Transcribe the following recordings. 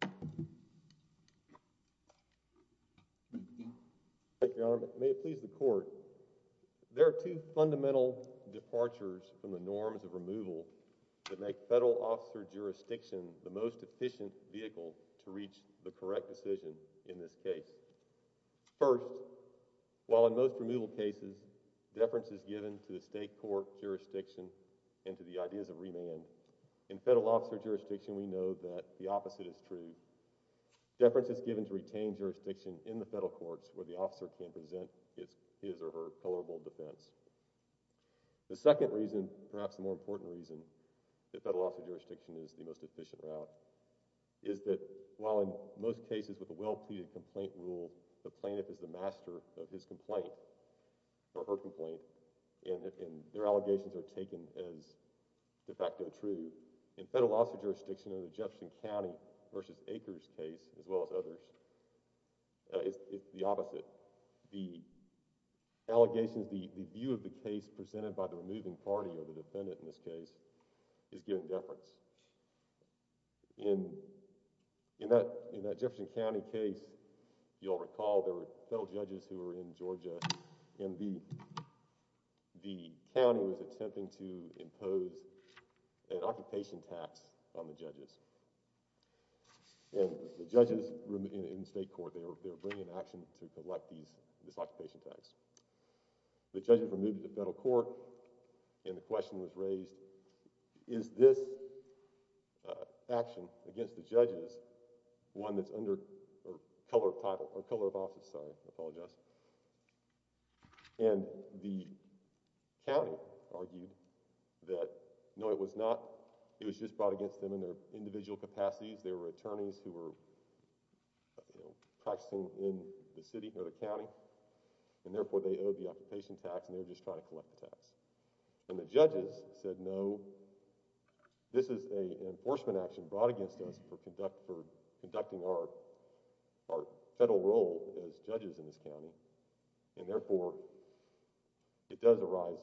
County, and I'm going to turn it over to the Attorney General. Thank you, Your Honor. May it please the Court, there are two fundamental departures from the norms of removal that make Federal Officer jurisdiction the most efficient vehicle to reach the correct decision in this case. First, while in most removal cases, deference is given to the State Court jurisdiction and to the ideas of remand, in Federal Officer jurisdiction we know that the opposite is true. Deference is given to retained jurisdiction in the Federal Courts where the officer can present his or her colorable defense. The second reason, perhaps the more important reason, that Federal Officer jurisdiction is the most efficient route, is that while in most cases with a well-pleaded complaint rule, the plaintiff is the master of his complaint, or her complaint, and their allegations are taken as de facto true. In Federal Officer jurisdiction in the Jefferson County v. Akers case, as well as others, it's the opposite. The allegations, the view of the case presented by the removing party, or the defendant in this case, is given deference. In that Jefferson County case, you'll recall there were Federal judges who were in Georgia, and the county was attempting to impose an occupation tax on the judges. And the judges in the State Court, they were bringing an action to collect these, this occupation tax. The judges were moved to the Federal Court, and the question was raised, is this action against the judges one that's under, or color of title, or color of office, sorry, I apologize. And the county argued that, no, it was not, it was just brought against them in their individual capacities. There were attorneys who were practicing in the city, or the county, and therefore they owed the occupation tax, and they were just trying to collect the tax. And the judges said, no, this is an enforcement action brought against us for conducting our Federal role as judges in this county, and therefore it does arise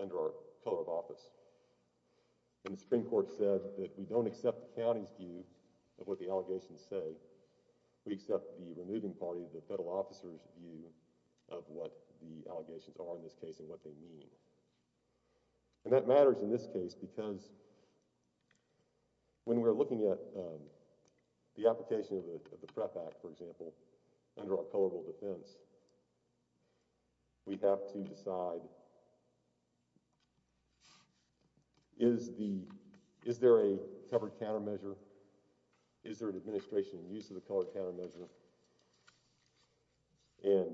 under our color of office. And the Supreme Court said that we don't accept the county's view of what the allegations say. We accept the removing party, the Federal officer's view of what the allegations are in this case, and what they mean. And that matters in this case because when we're looking at the application of the PREP Act, for example, under our colorable defense, we have to decide, is the, is there a covered countermeasure? Is there an administration in use of the covered countermeasure? And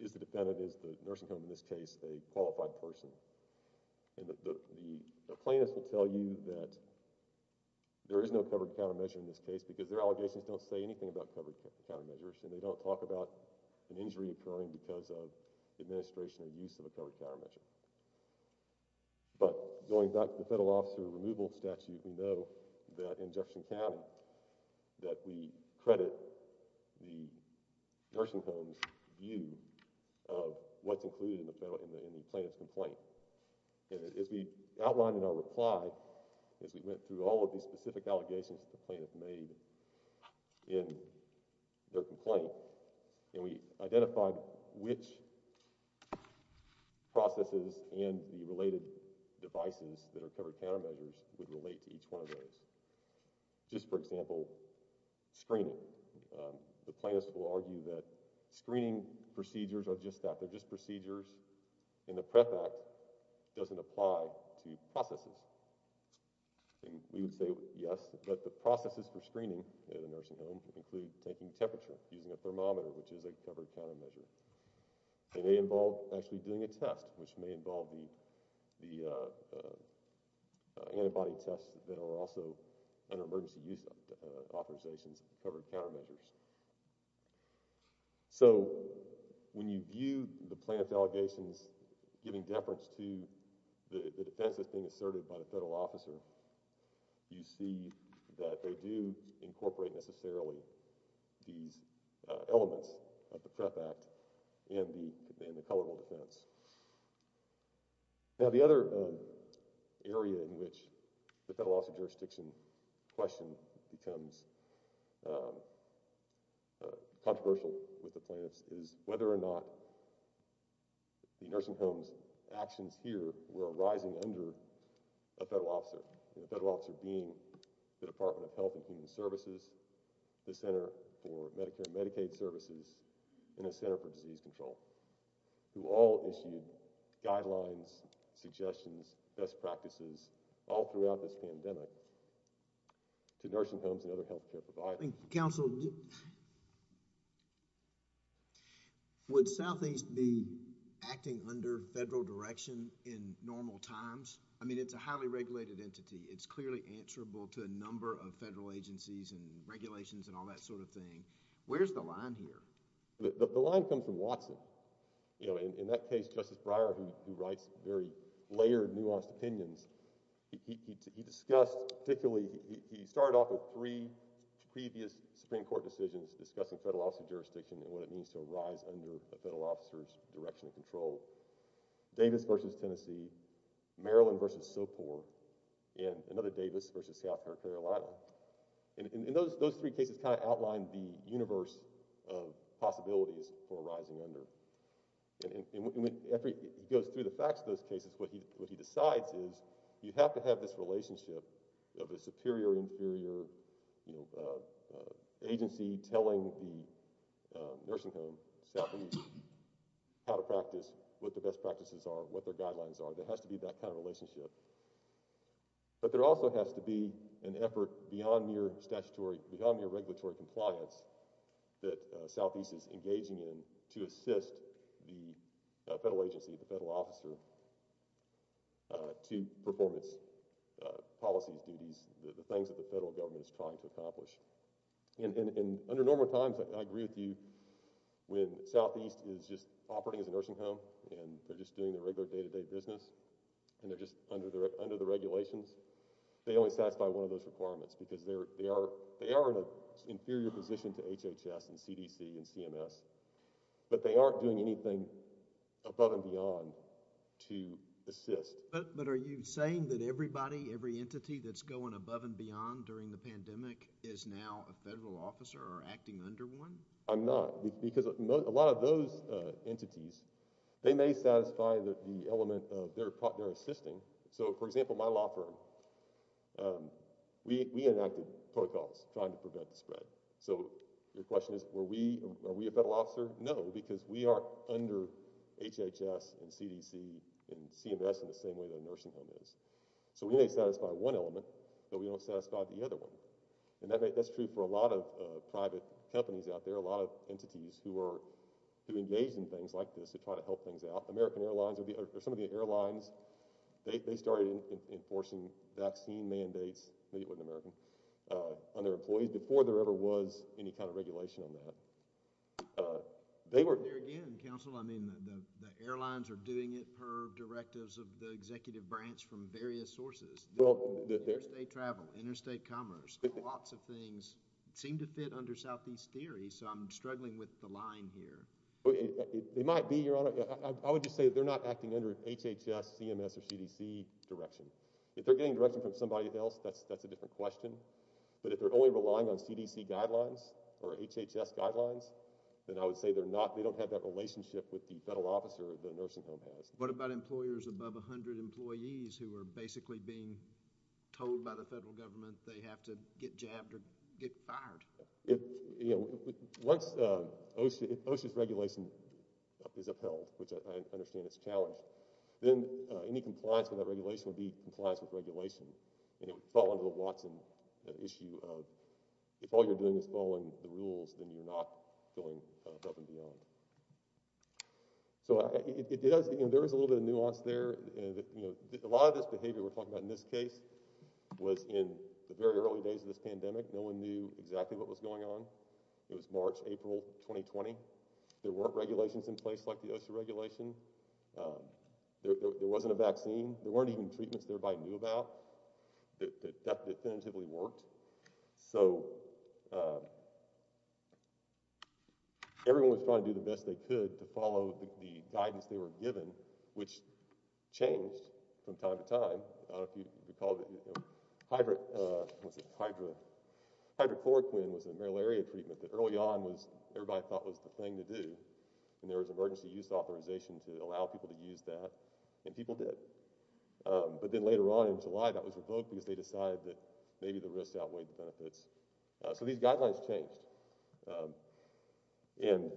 is the defendant, is the nursing home in this case, a qualified person? And the plaintiff will tell you that there is no covered countermeasure in this case because their allegations don't say anything about covered countermeasures, and they don't talk about an injury occurring because of administration in use of a covered countermeasure. But going back to the Federal officer removal statute, we know that in Jefferson County that we credit the nursing home's view of what's included in the plaintiff's complaint. And as we outlined in our reply, as we went through all of these specific allegations that the plaintiff made in their complaint, and we identified which processes and the related devices that are covered countermeasures would relate to each one of those. Just for example, screening. The plaintiffs will argue that screening procedures are just that, they're just procedures, and the PREP Act doesn't apply to processes. And we would say yes, but the processes for screening at a nursing home include taking temperature using a thermometer, which is a covered countermeasure. It may involve actually doing a test, which may involve the, the antibody tests that are also under emergency use authorizations, covered countermeasures. So, when you view the plaintiff's allegations giving deference to the defense that's being asserted by the Federal officer, you see that they do incorporate necessarily these elements of the PREP Act in the, in the coverable defense. Now the other area in which the Federal officer jurisdiction question becomes controversial with the plaintiffs is whether or not the nursing home's actions here were arising under a Federal officer, and the Federal officer being the Department of Health and Human Services, the Center for Medicare and Medicaid Services, and the Center for Disease Control, who all issued guidelines, suggestions, best practices all throughout this pandemic to nursing homes and other health care providers. Counsel, would Southeast be acting under Federal direction in normal times? I mean, it's a highly regulated entity. It's clearly answerable to a number of Federal agencies and regulations and all that sort of thing. Where's the line here? The line comes from Watson. You know, in that case, Justice Breyer, who writes very layered, nuanced opinions, he discussed particularly, he started off with three previous Supreme Court decisions discussing Federal officer jurisdiction and what it means to arise under a Federal officer's direction of control. Davis v. Tennessee, Maryland v. Socor, and another Davis v. South Carolina. And those three cases kind of outlined the universe of possibilities for arising under. And after he goes through the facts of those cases, what he decides is, you have to have this relationship of a superior-inferior, you know, agency telling the nursing home, Southeast, how to practice, what the best practices are, what their guidelines are. There has to be that kind of relationship. But there also has to be an effort beyond mere statutory, beyond mere regulatory compliance that Southeast is engaging in to assist the Federal agency, the Federal officer, to perform its policies, duties, the things that the Federal government is trying to accomplish. And under normal times, I agree with you, when Southeast is just operating as a nursing home and they're just doing their regular day-to-day business and they're just under the regulations, they only satisfy one of those requirements because they are in an inferior position to HHS and CMS, but they aren't doing anything above and beyond to assist. But are you saying that everybody, every entity that's going above and beyond during the pandemic is now a Federal officer or acting under one? I'm not. Because a lot of those entities, they may satisfy the element of their assisting. So, for example, my law firm, we enacted protocols trying to prevent the spread. So, your question is, were we, are we a Federal officer? No, because we are under HHS and CDC and CMS in the same way that a nursing home is. So, we may satisfy one element, but we don't satisfy the other one. And that's true for a lot of private companies out there, a lot of entities who are, who engage in things like this, who try to help things out. American Airlines or some of the airlines, they started enforcing vaccine mandates, maybe it wasn't American, on their employees before there ever was any kind of regulation on that. There again, Counselor, I mean, the airlines are doing it per directives of the executive branch from various sources. Interstate travel, interstate commerce, lots of things seem to fit under Southeast Theory, so I'm struggling with the line here. They might be, Your Honor. I would just say that they're not acting under HHS, CMS, or CDC regulation, but if they're only relying on CDC guidelines or HHS guidelines, then I would say they're not, they don't have that relationship with the Federal officer the nursing home has. What about employers above 100 employees who are basically being told by the Federal Government they have to get jabbed or get fired? If, you know, once OSHA, if OSHA's regulation is upheld, which I understand is a challenge, then any compliance with that regulation would be compliance with regulation, and it would fall under the Watson issue of if all you're doing is following the rules, then you're not going above and beyond. So it does, there is a little bit of nuance there. A lot of this behavior we're talking about in this case was in the very early days of this pandemic. No one knew exactly what was going on. It was March, April 2020. There weren't regulations in place like the OSHA regulation. There wasn't a vaccine. There weren't even treatments everybody knew about that definitively worked. So everyone was trying to do the best they could to follow the guidance they were given, which changed from time to time. I don't know if you recall, Hydra, what's it, Hydra, Hydrochloroquine was a malaria treatment that early on was, everybody thought was the thing to do, and there was emergency use authorization to allow people to use that, and people did. But then later on in July, that was revoked because they decided that maybe the risks outweighed the benefits. So these guidelines changed, and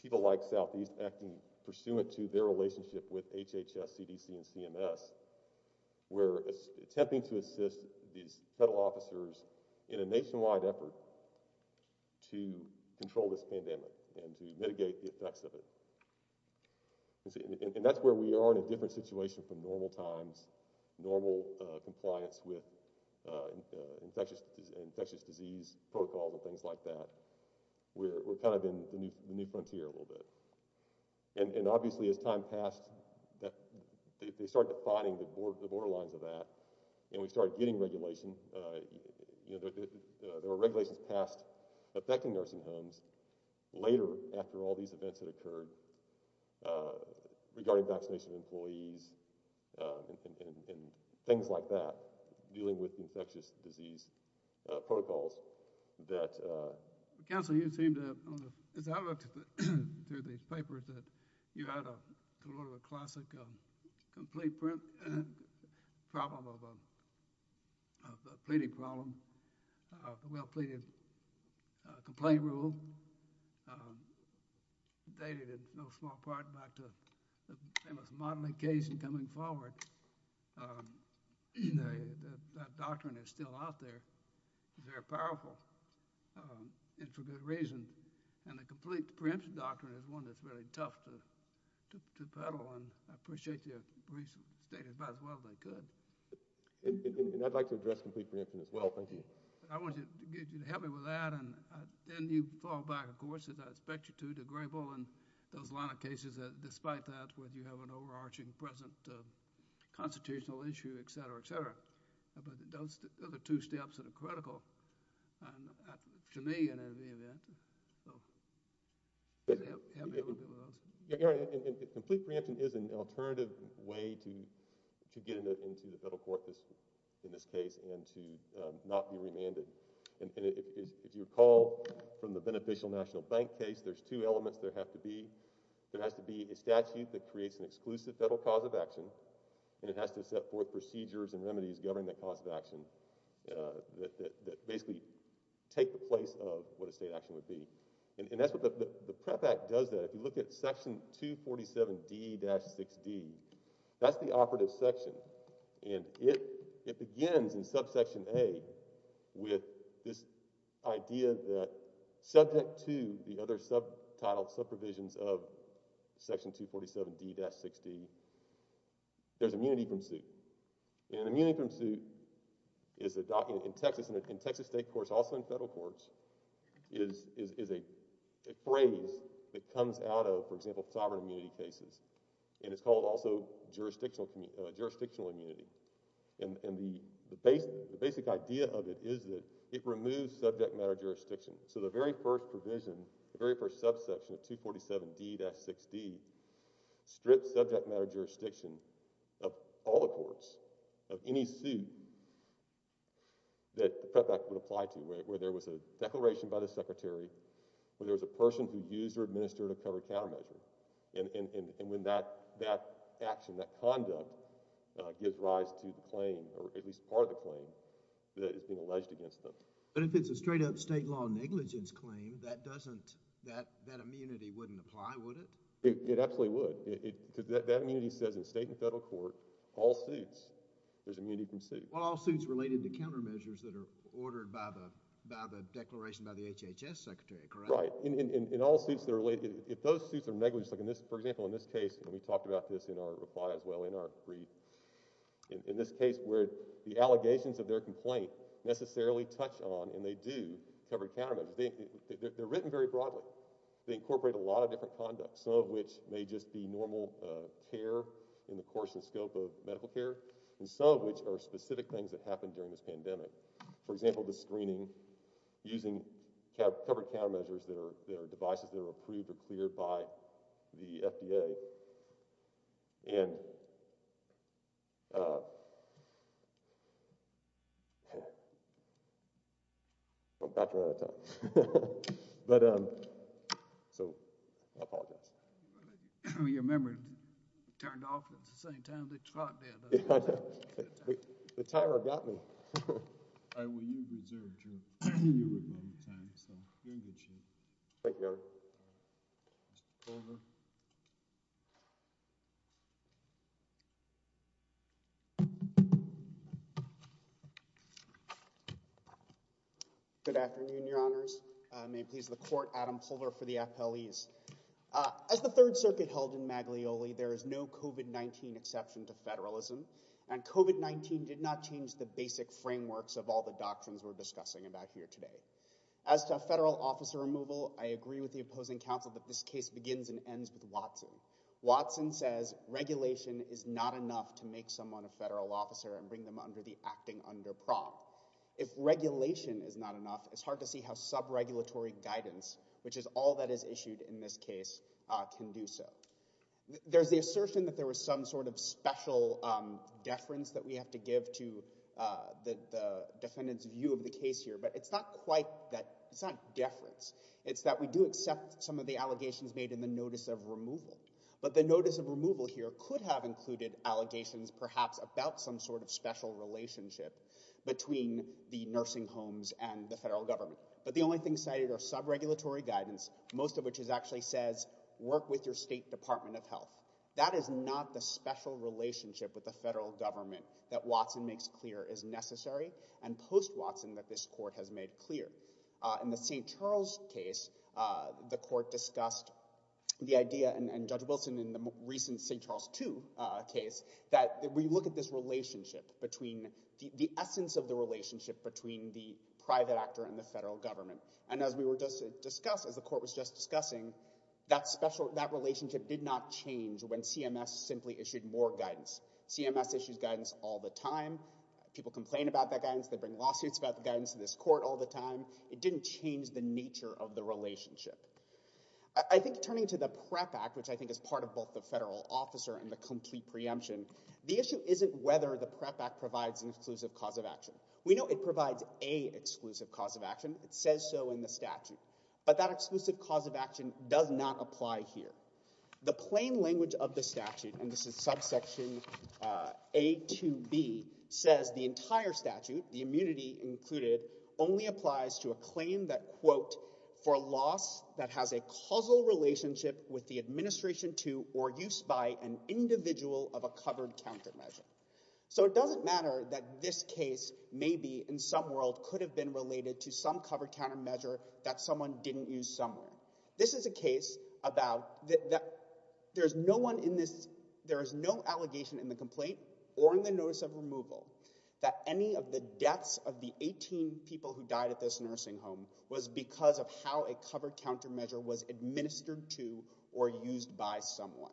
people like Southeast Acting, pursuant to their relationship with HHS, CDC, and CMS, were attempting to assist these federal officers in a nationwide effort to control this pandemic and to mitigate the effects of it. And that's where we are in a different situation from normal times, normal compliance with infectious disease protocols and things like that. We're kind of in the new frontier a little bit. And obviously as time passed, they started defining the borderlines of that, and we started getting regulation. There were regulations passed affecting nursing homes later after all these events had occurred regarding vaccination employees and things like that, dealing with infectious disease protocols that... Council, you seem to have, as I looked through these papers, that you had a little of a classic complete problem of a pleading problem, a well-pleaded complaint rule, dated in no small part back to the famous modeling case and coming forward. That doctrine is still out there. It's very powerful, and for good reason. And the complete preemption doctrine is one that's really tough to peddle, and I appreciate your brief statement about as well as I could. And I'd like to address complete preemption as well. Thank you. I want you to help me with that, and then you fall back, of course, as I expect you to, to Grable and those line of cases, despite that, whether you have an overarching present constitutional issue, et cetera, et cetera. But those are the two steps that are critical to me in any event. So help me a little bit with those. Yeah, Gary, and complete preemption is an alternative way to get into the federal court in this case and to not be remanded. And if you recall from the beneficial national bank case, there's two elements there have to be. There has to be a statute that creates an exclusive federal cause of action, and it has to set forth procedures and remedies governing that cause of action that basically take the place of what a state action would be. And that's what the PREP Act does there. If you look at section 247D-6D, that's the operative section, and it begins in subsection A with this idea that subject to the other subtitled subprovisions of section 247D-6D, there's immunity from suit. And immunity from suit is a document in Texas, in Texas state courts, also in federal courts, is a phrase that comes out of, for example, sovereign immunity cases. And it's called also jurisdictional immunity. And the basic idea of it is that it removes subject matter jurisdiction. So the very first provision, the very first subsection of 247D-6D, strips subject matter jurisdiction of all the courts, of any suit that the PREP Act would apply to, where there was a declaration by the secretary, where there was a person who used or administered a covered countermeasure. And when that action, that conduct, gives rise to the claim, or at least part of the claim, that is being alleged against them. But if it's a straight-up state law negligence claim, that doesn't, that immunity wouldn't apply, would it? It absolutely would. That immunity says in state and federal court, all suits, there's immunity from suit. Well, all suits related to countermeasures that are ordered by the declaration by the HHS secretary, correct? Right. In all suits that are related, if those suits are negligent, for example, in this case, and we talked about this in our reply as well in our brief, in this case where the covered countermeasures, they're written very broadly. They incorporate a lot of different conducts, some of which may just be normal care in the course and scope of medical care, and some of which are specific things that happened during this pandemic. For example, the screening using covered countermeasures that are devices that are approved or cleared by the FDA. And, uh, I'm about to run out of time. But, um, so I apologize. Your memory turned off at the same time the clock did. The timer got me. All right, well, you deserve a drink. You're in good shape. Thank you, Eric. Good afternoon, your honors. May please the court Adam pulver for the FLEs. Uh, as the third circuit held in Maglioli, there is no covert 19 exception to federalism and covert 19 did not change the basic frameworks of all the doctrines we're discussing about here today. As to federal officer removal, I agree with the opposing counsel that this case begins and ends with Watson. Watson says regulation is not enough to make someone a federal officer and bring them under the acting under prompt. If regulation is not enough, it's hard to see how sub regulatory guidance, which is all that is issued in this case, uh, can do so. There's the assertion that there was some sort of special, um, deference that we have to give to, uh, the, the defendant's view of the case here, but it's not quite that it's not deference. It's that we do accept some of the allegations made in the notice of removal, but the notice of removal here could have included allegations perhaps about some sort of special relationship between the nursing homes and the federal government. But the only thing cited are sub regulatory guidance, most of which is actually says work with your state department of health. That is not the special relationship with the federal government that Watson makes clear is necessary. And post Watson that this court has made clear, uh, in the St. Charles case, uh, the court discussed the idea and judge Wilson in the recent St. Charles two, uh, case that we look at this relationship between the essence of the relationship between the private actor and the federal government. And as we were just discussing, as the court was just discussing that special, that relationship did not change when CMS simply issued more guidance. CMS issues guidance all the time. People complain about that guidance. They bring lawsuits about the guidance of this court all the time. It didn't change the nature of the relationship. I think turning to the prep act, which I think is part of both the federal officer and the complete preemption, the issue isn't whether the prep act provides an exclusive cause of action. We know it provides a exclusive cause of action. It says so in the statute, but that exclusive cause of action does not apply here. The plain language of the statute, and this is subsection, uh, a to B says the entire statute, the immunity included only applies to a claim that quote for loss that has a causal relationship with the administration to or use by an individual of a covered counter measure. So it doesn't matter that this case may be in some world could have been related to some covered counter measure that someone didn't use somewhere. This is a case about that. There's no one in this. There is no allegation in the complaint or in the notice of removal that any of the deaths of the 18 people who died at this nursing home was because of how a covered counter measure was administered to or used by someone.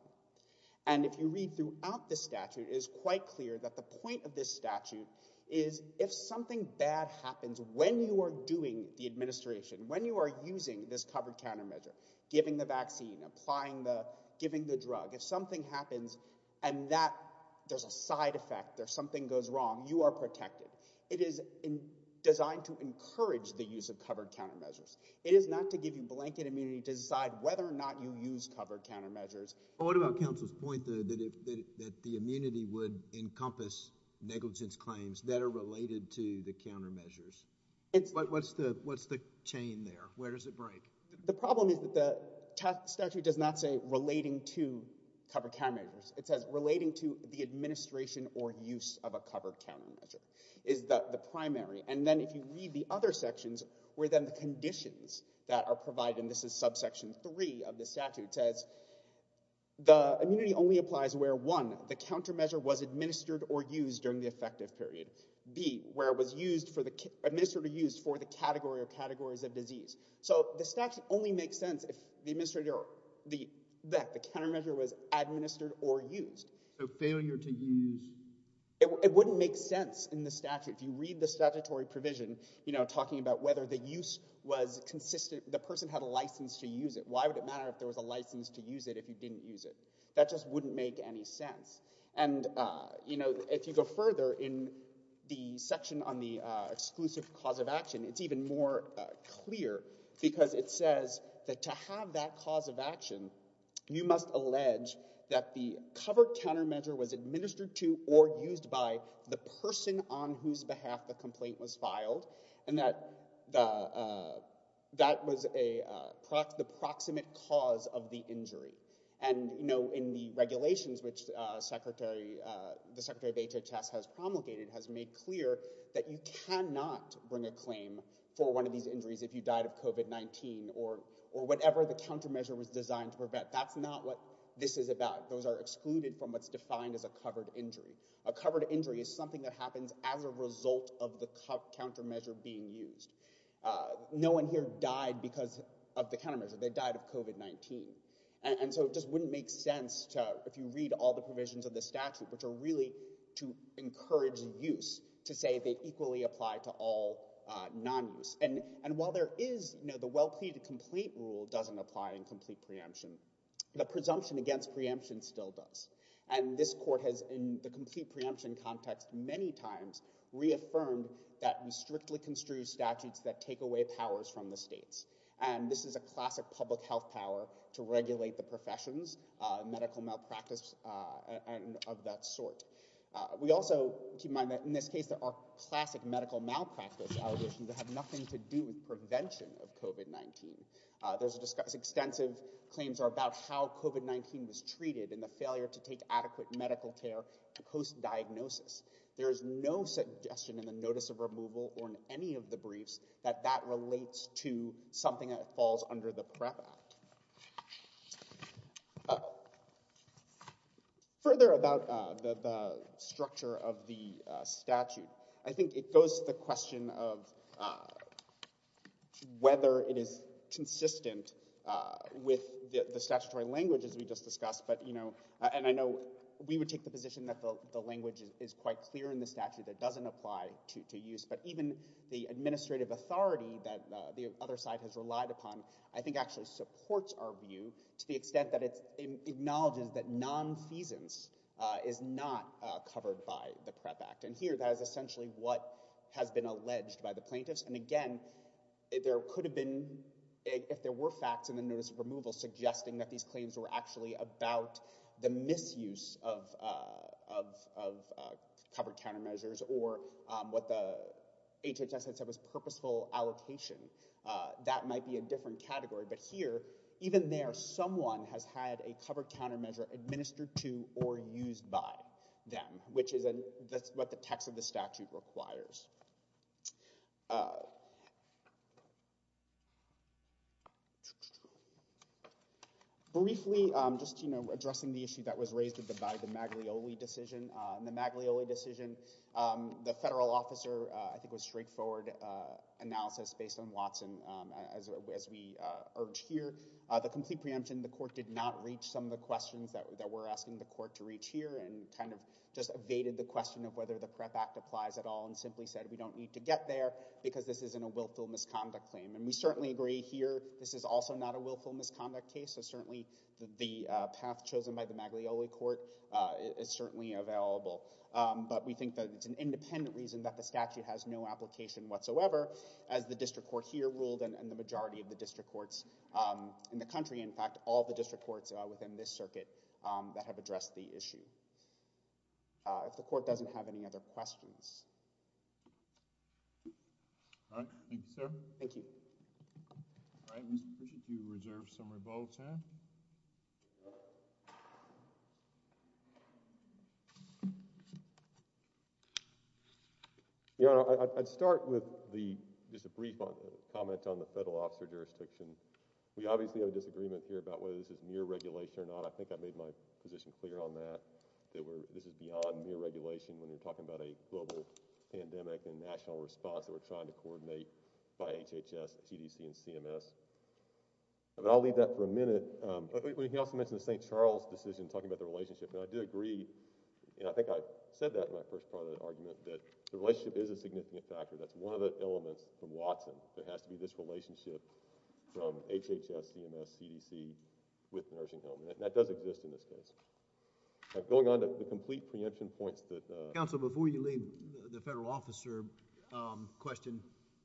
And if you read throughout the statute is quite clear that the point of this statute is if something bad happens, when you are doing the administration, when you are using this covered counter measure, giving the vaccine, applying the, giving the drug, if something happens and that there's a side effect, there's something goes wrong, you are protected. It is designed to encourage the use of covered counter measures. It is not to give you blanket immunity to decide whether or not you use covered counter measures. What about counsel's point that, that the immunity would encompass negligence claims that are related to the counter measures? What's the, what's the chain there? Where does it break? The problem is that the statute does not say relating to covered counter measures. It says relating to the administration or use of a covered counter measure is the, the primary. And then if you read the other sections where then the conditions that are provided, and this is subsection three of the statute says the immunity only applies where one, the counter measure was administered or used during the effective period. B, where it was used for the, administered or used for the category or categories of disease. So the statute only makes sense if the administrator, the, that the counter measure was administered or used. So failure to use. It wouldn't make sense in the statute. If you read the statutory provision, you know, talking about whether the use was consistent, the person had a license to use it. Why would it matter if there was a license to use it if you didn't use it? That just wouldn't make any sense. And, uh, you know, if you go further in the section on the, uh, exclusive cause of action, it's even more clear because it says that to have that cause of action, you must allege that the covered counter measure was administered to or used by the person on whose behalf the complaint was filed and that the, uh, that was a, uh, prox, the proximate cause of the injury. And, you know, in the regulations, which, uh, secretary, uh, the secretary of HHS has promulgated has made clear that you cannot bring a claim for one of these injuries if you died of COVID-19 or, or whatever the countermeasure was designed to prevent. That's not what this is about. Those are excluded from what's defined as a covered injury. A covered injury is something that happens as a result of the countermeasure being used. Uh, no one here died because of the countermeasure. They died of COVID-19. And so it just wouldn't make sense to, if you read all the provisions of the statute, which are really to encourage use to say they equally apply to all, uh, non-use. And, and while there is, you know, the well pleaded complaint rule doesn't apply in complete preemption, the presumption against preemption still does. And this court has in the complete preemption context, many times reaffirmed that we strictly construe statutes that take away powers from the states. And this is a classic public health power to regulate the professions, uh, medical malpractice, uh, and of that sort. Uh, we also keep in mind that in this case, there are classic medical malpractice allegations that have nothing to do with prevention of COVID-19. Uh, there's extensive claims are about how COVID-19 was treated and the failure to take adequate medical care post diagnosis. There is no suggestion in the notice of removal or in any of the briefs that that relates to something that falls under the PREP Act. Uh, further about, uh, the, the structure of the, uh, statute, I think it goes to the question of, uh, whether it is consistent, uh, with the, the statutory languages we just discussed, but, you know, and I know we would take the position that the, the language is quite clear in the statute that doesn't apply to, to use, but even the administrative authority that, uh, the other side has relied upon, I think actually supports our view to the extent that it's acknowledges that nonfeasance, uh, is not, uh, covered by the PREP Act. And here that is essentially what has been alleged by the plaintiffs. And again, there could have been, if there were facts in the notice of removal suggesting that these claims were actually about the misuse of, uh, of, of, uh, covered countermeasures or, um, what the HHS had said was purposeful allocation, uh, that might be a different category. But here, even there, someone has had a covered countermeasure administered to or used by them, which is a, that's what the text of the statute requires. Uh, briefly, um, just, you know, addressing the issue that was raised at the, by the Maglioli decision, uh, in the Maglioli decision, um, the federal officer, uh, I think was straightforward, uh, analysis based on Watson, um, as, as we, uh, urge here. Uh, the complete preemption, the court did not reach some of the questions that, that we're asking the court to reach here and kind of just evaded the question of whether the PREP Act applies at all and simply said, we don't need to get there because this isn't a willful misconduct claim. And we certainly agree here, this is also not a willful misconduct case. So certainly the, uh, path chosen by the Maglioli court, uh, is certainly available. Um, but we think that it's an independent reason that the statute has no application whatsoever as the district court here ruled and, and the majority of the district courts, um, in the country. In fact, all the district courts, uh, within this circuit, um, that have addressed the issue. Uh, if the court doesn't have any other questions. All right. Thank you, sir. Thank you. All right. Mr. Bush, if you reserve some of your ball time. Yeah, I'd start with the, just a brief comment on the federal officer jurisdiction. We obviously have a disagreement here about whether this is near regulation or not. I think I made my position clear on that, that we're, this is beyond mere regulation when you're talking about a global pandemic and national response that we're trying to address. But I'll leave that for a minute. Um, but he also mentioned the St. Charles decision talking about the relationship. Now, I do agree, and I think I said that in my first part of the argument, that the relationship is a significant factor. That's one of the elements from Watson. There has to be this relationship from HHS, CMS, CDC with the nursing home. And that does exist in this case. Going on to the complete preemption points that, uh. Counsel, before you leave the federal officer, um, question,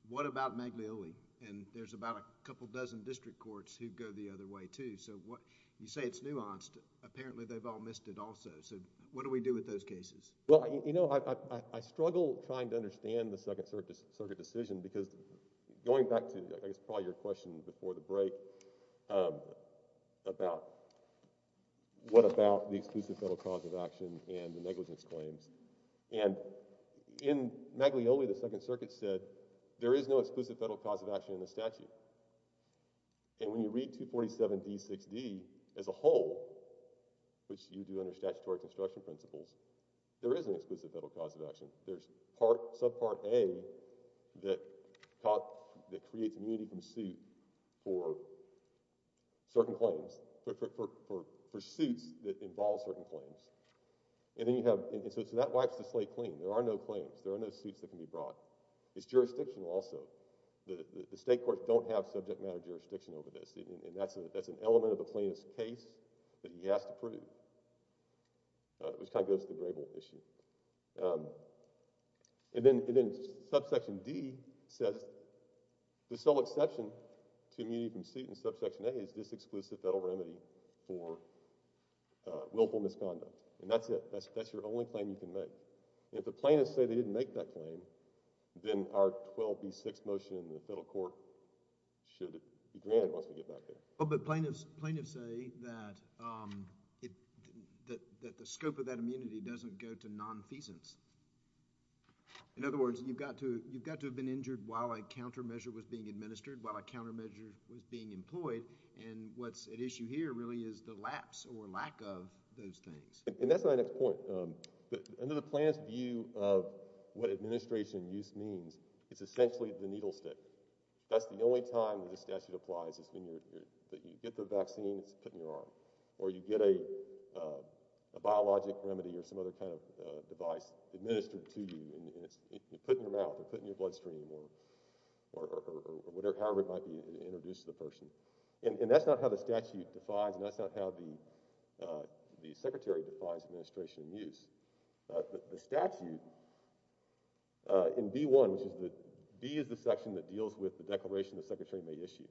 what about Maglioli? And there's about a couple dozen district courts who go the other way too. So what, you say it's nuanced. Apparently they've all missed it also. So what do we do with those cases? Well, you know, I, I, I struggle trying to understand the Second Circuit decision because going back to, I guess probably your question before the break, um, about what about the exclusive federal cause of action and the negligence claims. And in Maglioli, the Second Circuit said there is no exclusive federal cause of action in the statute. And when you read 247d6d as a whole, which you do under statutory construction principles, there is an exclusive federal cause of action. There's part, subpart A that creates immunity from suit for certain claims, for, for, for, for suits that involve certain claims. And then you have, and so, so that wipes the slate clean. There are no claims. There are no suits that can be brought. It's jurisdictional also. The, the, the state courts don't have subject matter jurisdiction over this. And, and that's a, that's an element of a plaintiff's case that he has to prove, uh, which kind of goes to the grable issue. Um, and then, and then subsection D says the sole exception to immunity from suit in subsection A is this exclusive federal remedy for, uh, willful misconduct. And that's it. That's, that's your only claim you can make. If the plaintiffs say they didn't make that claim, then our 12b6 motion in the federal court should be granted once we get back there. Oh, but plaintiffs, plaintiffs say that, um, it, that, that the scope of that immunity doesn't go to nonfeasance. In other words, you've got to, you've got to have been injured while a countermeasure was being administered while a countermeasure was being employed. And what's at issue here really is the lapse or lack of those things. And that's my next point. Um, under the plaintiff's view of what administration use means, it's essentially the needle stick. That's the only time when the statute applies is when you're, you're, that you get the vaccine, it's put in your arm. Or you get a, uh, a biologic remedy or some other kind of, uh, device administered to you and it's put in your mouth or put in your bloodstream or, or, or whatever, however it might be introduced to the person. And, and that's not how the statute defines and that's not how the, uh, the secretary defines administration use. Uh, the, the statute, uh, in B1, which is the, B is the section that deals with the declaration the secretary may issue.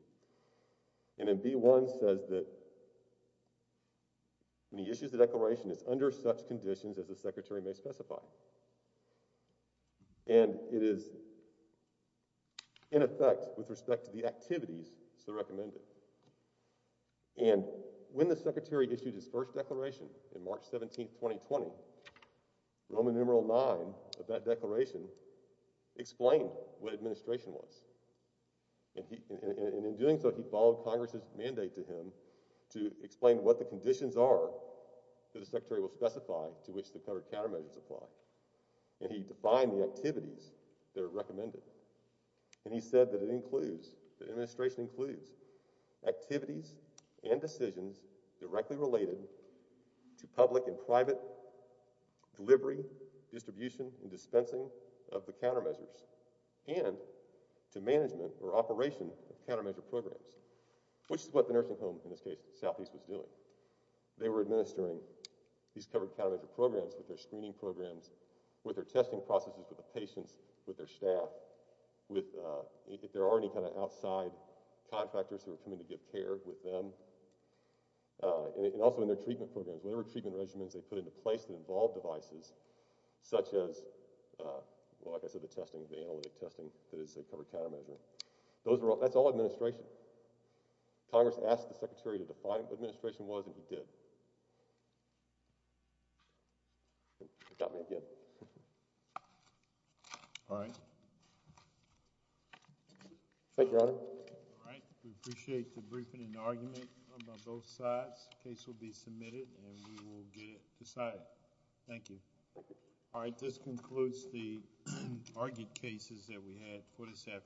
And in B1 says that when he issues the declaration, it's under such conditions as the secretary may specify. And it is in effect with respect to the activities so recommended. And when the secretary issued his first declaration in March 17th, 2020, Roman numeral 9 of that declaration explained what administration was. And he, and, and in doing so, he followed Congress's mandate to him to explain what the conditions are that the secretary will specify to which the covered countermeasures apply. And he defined the activities that are recommended. And he said that it includes, that administration includes activities and decisions directly related to public and private delivery, distribution, and dispensing of the countermeasures and to management or operation of countermeasure programs, which is what the nursing home, in this case, Southeast was doing. They were administering these covered countermeasure programs with their screening programs, with their testing processes, with the patients, with their staff, with, uh, if there are any kind of outside contractors who are coming to give care with them. Uh, and also in their treatment programs, whatever treatment regimens they put into place that involve devices, such as, uh, well, like I said, the testing, the analytic testing that is a covered countermeasure. Those are all, that's all administration. Congress asked the secretary to define what administration was and he did. Got me again. All right. Thank you, Your Honor. All right. We appreciate the briefing and argument from both sides. Case will be submitted and we will get it decided. Thank you. All right. This concludes the argued cases that we had for this afternoon.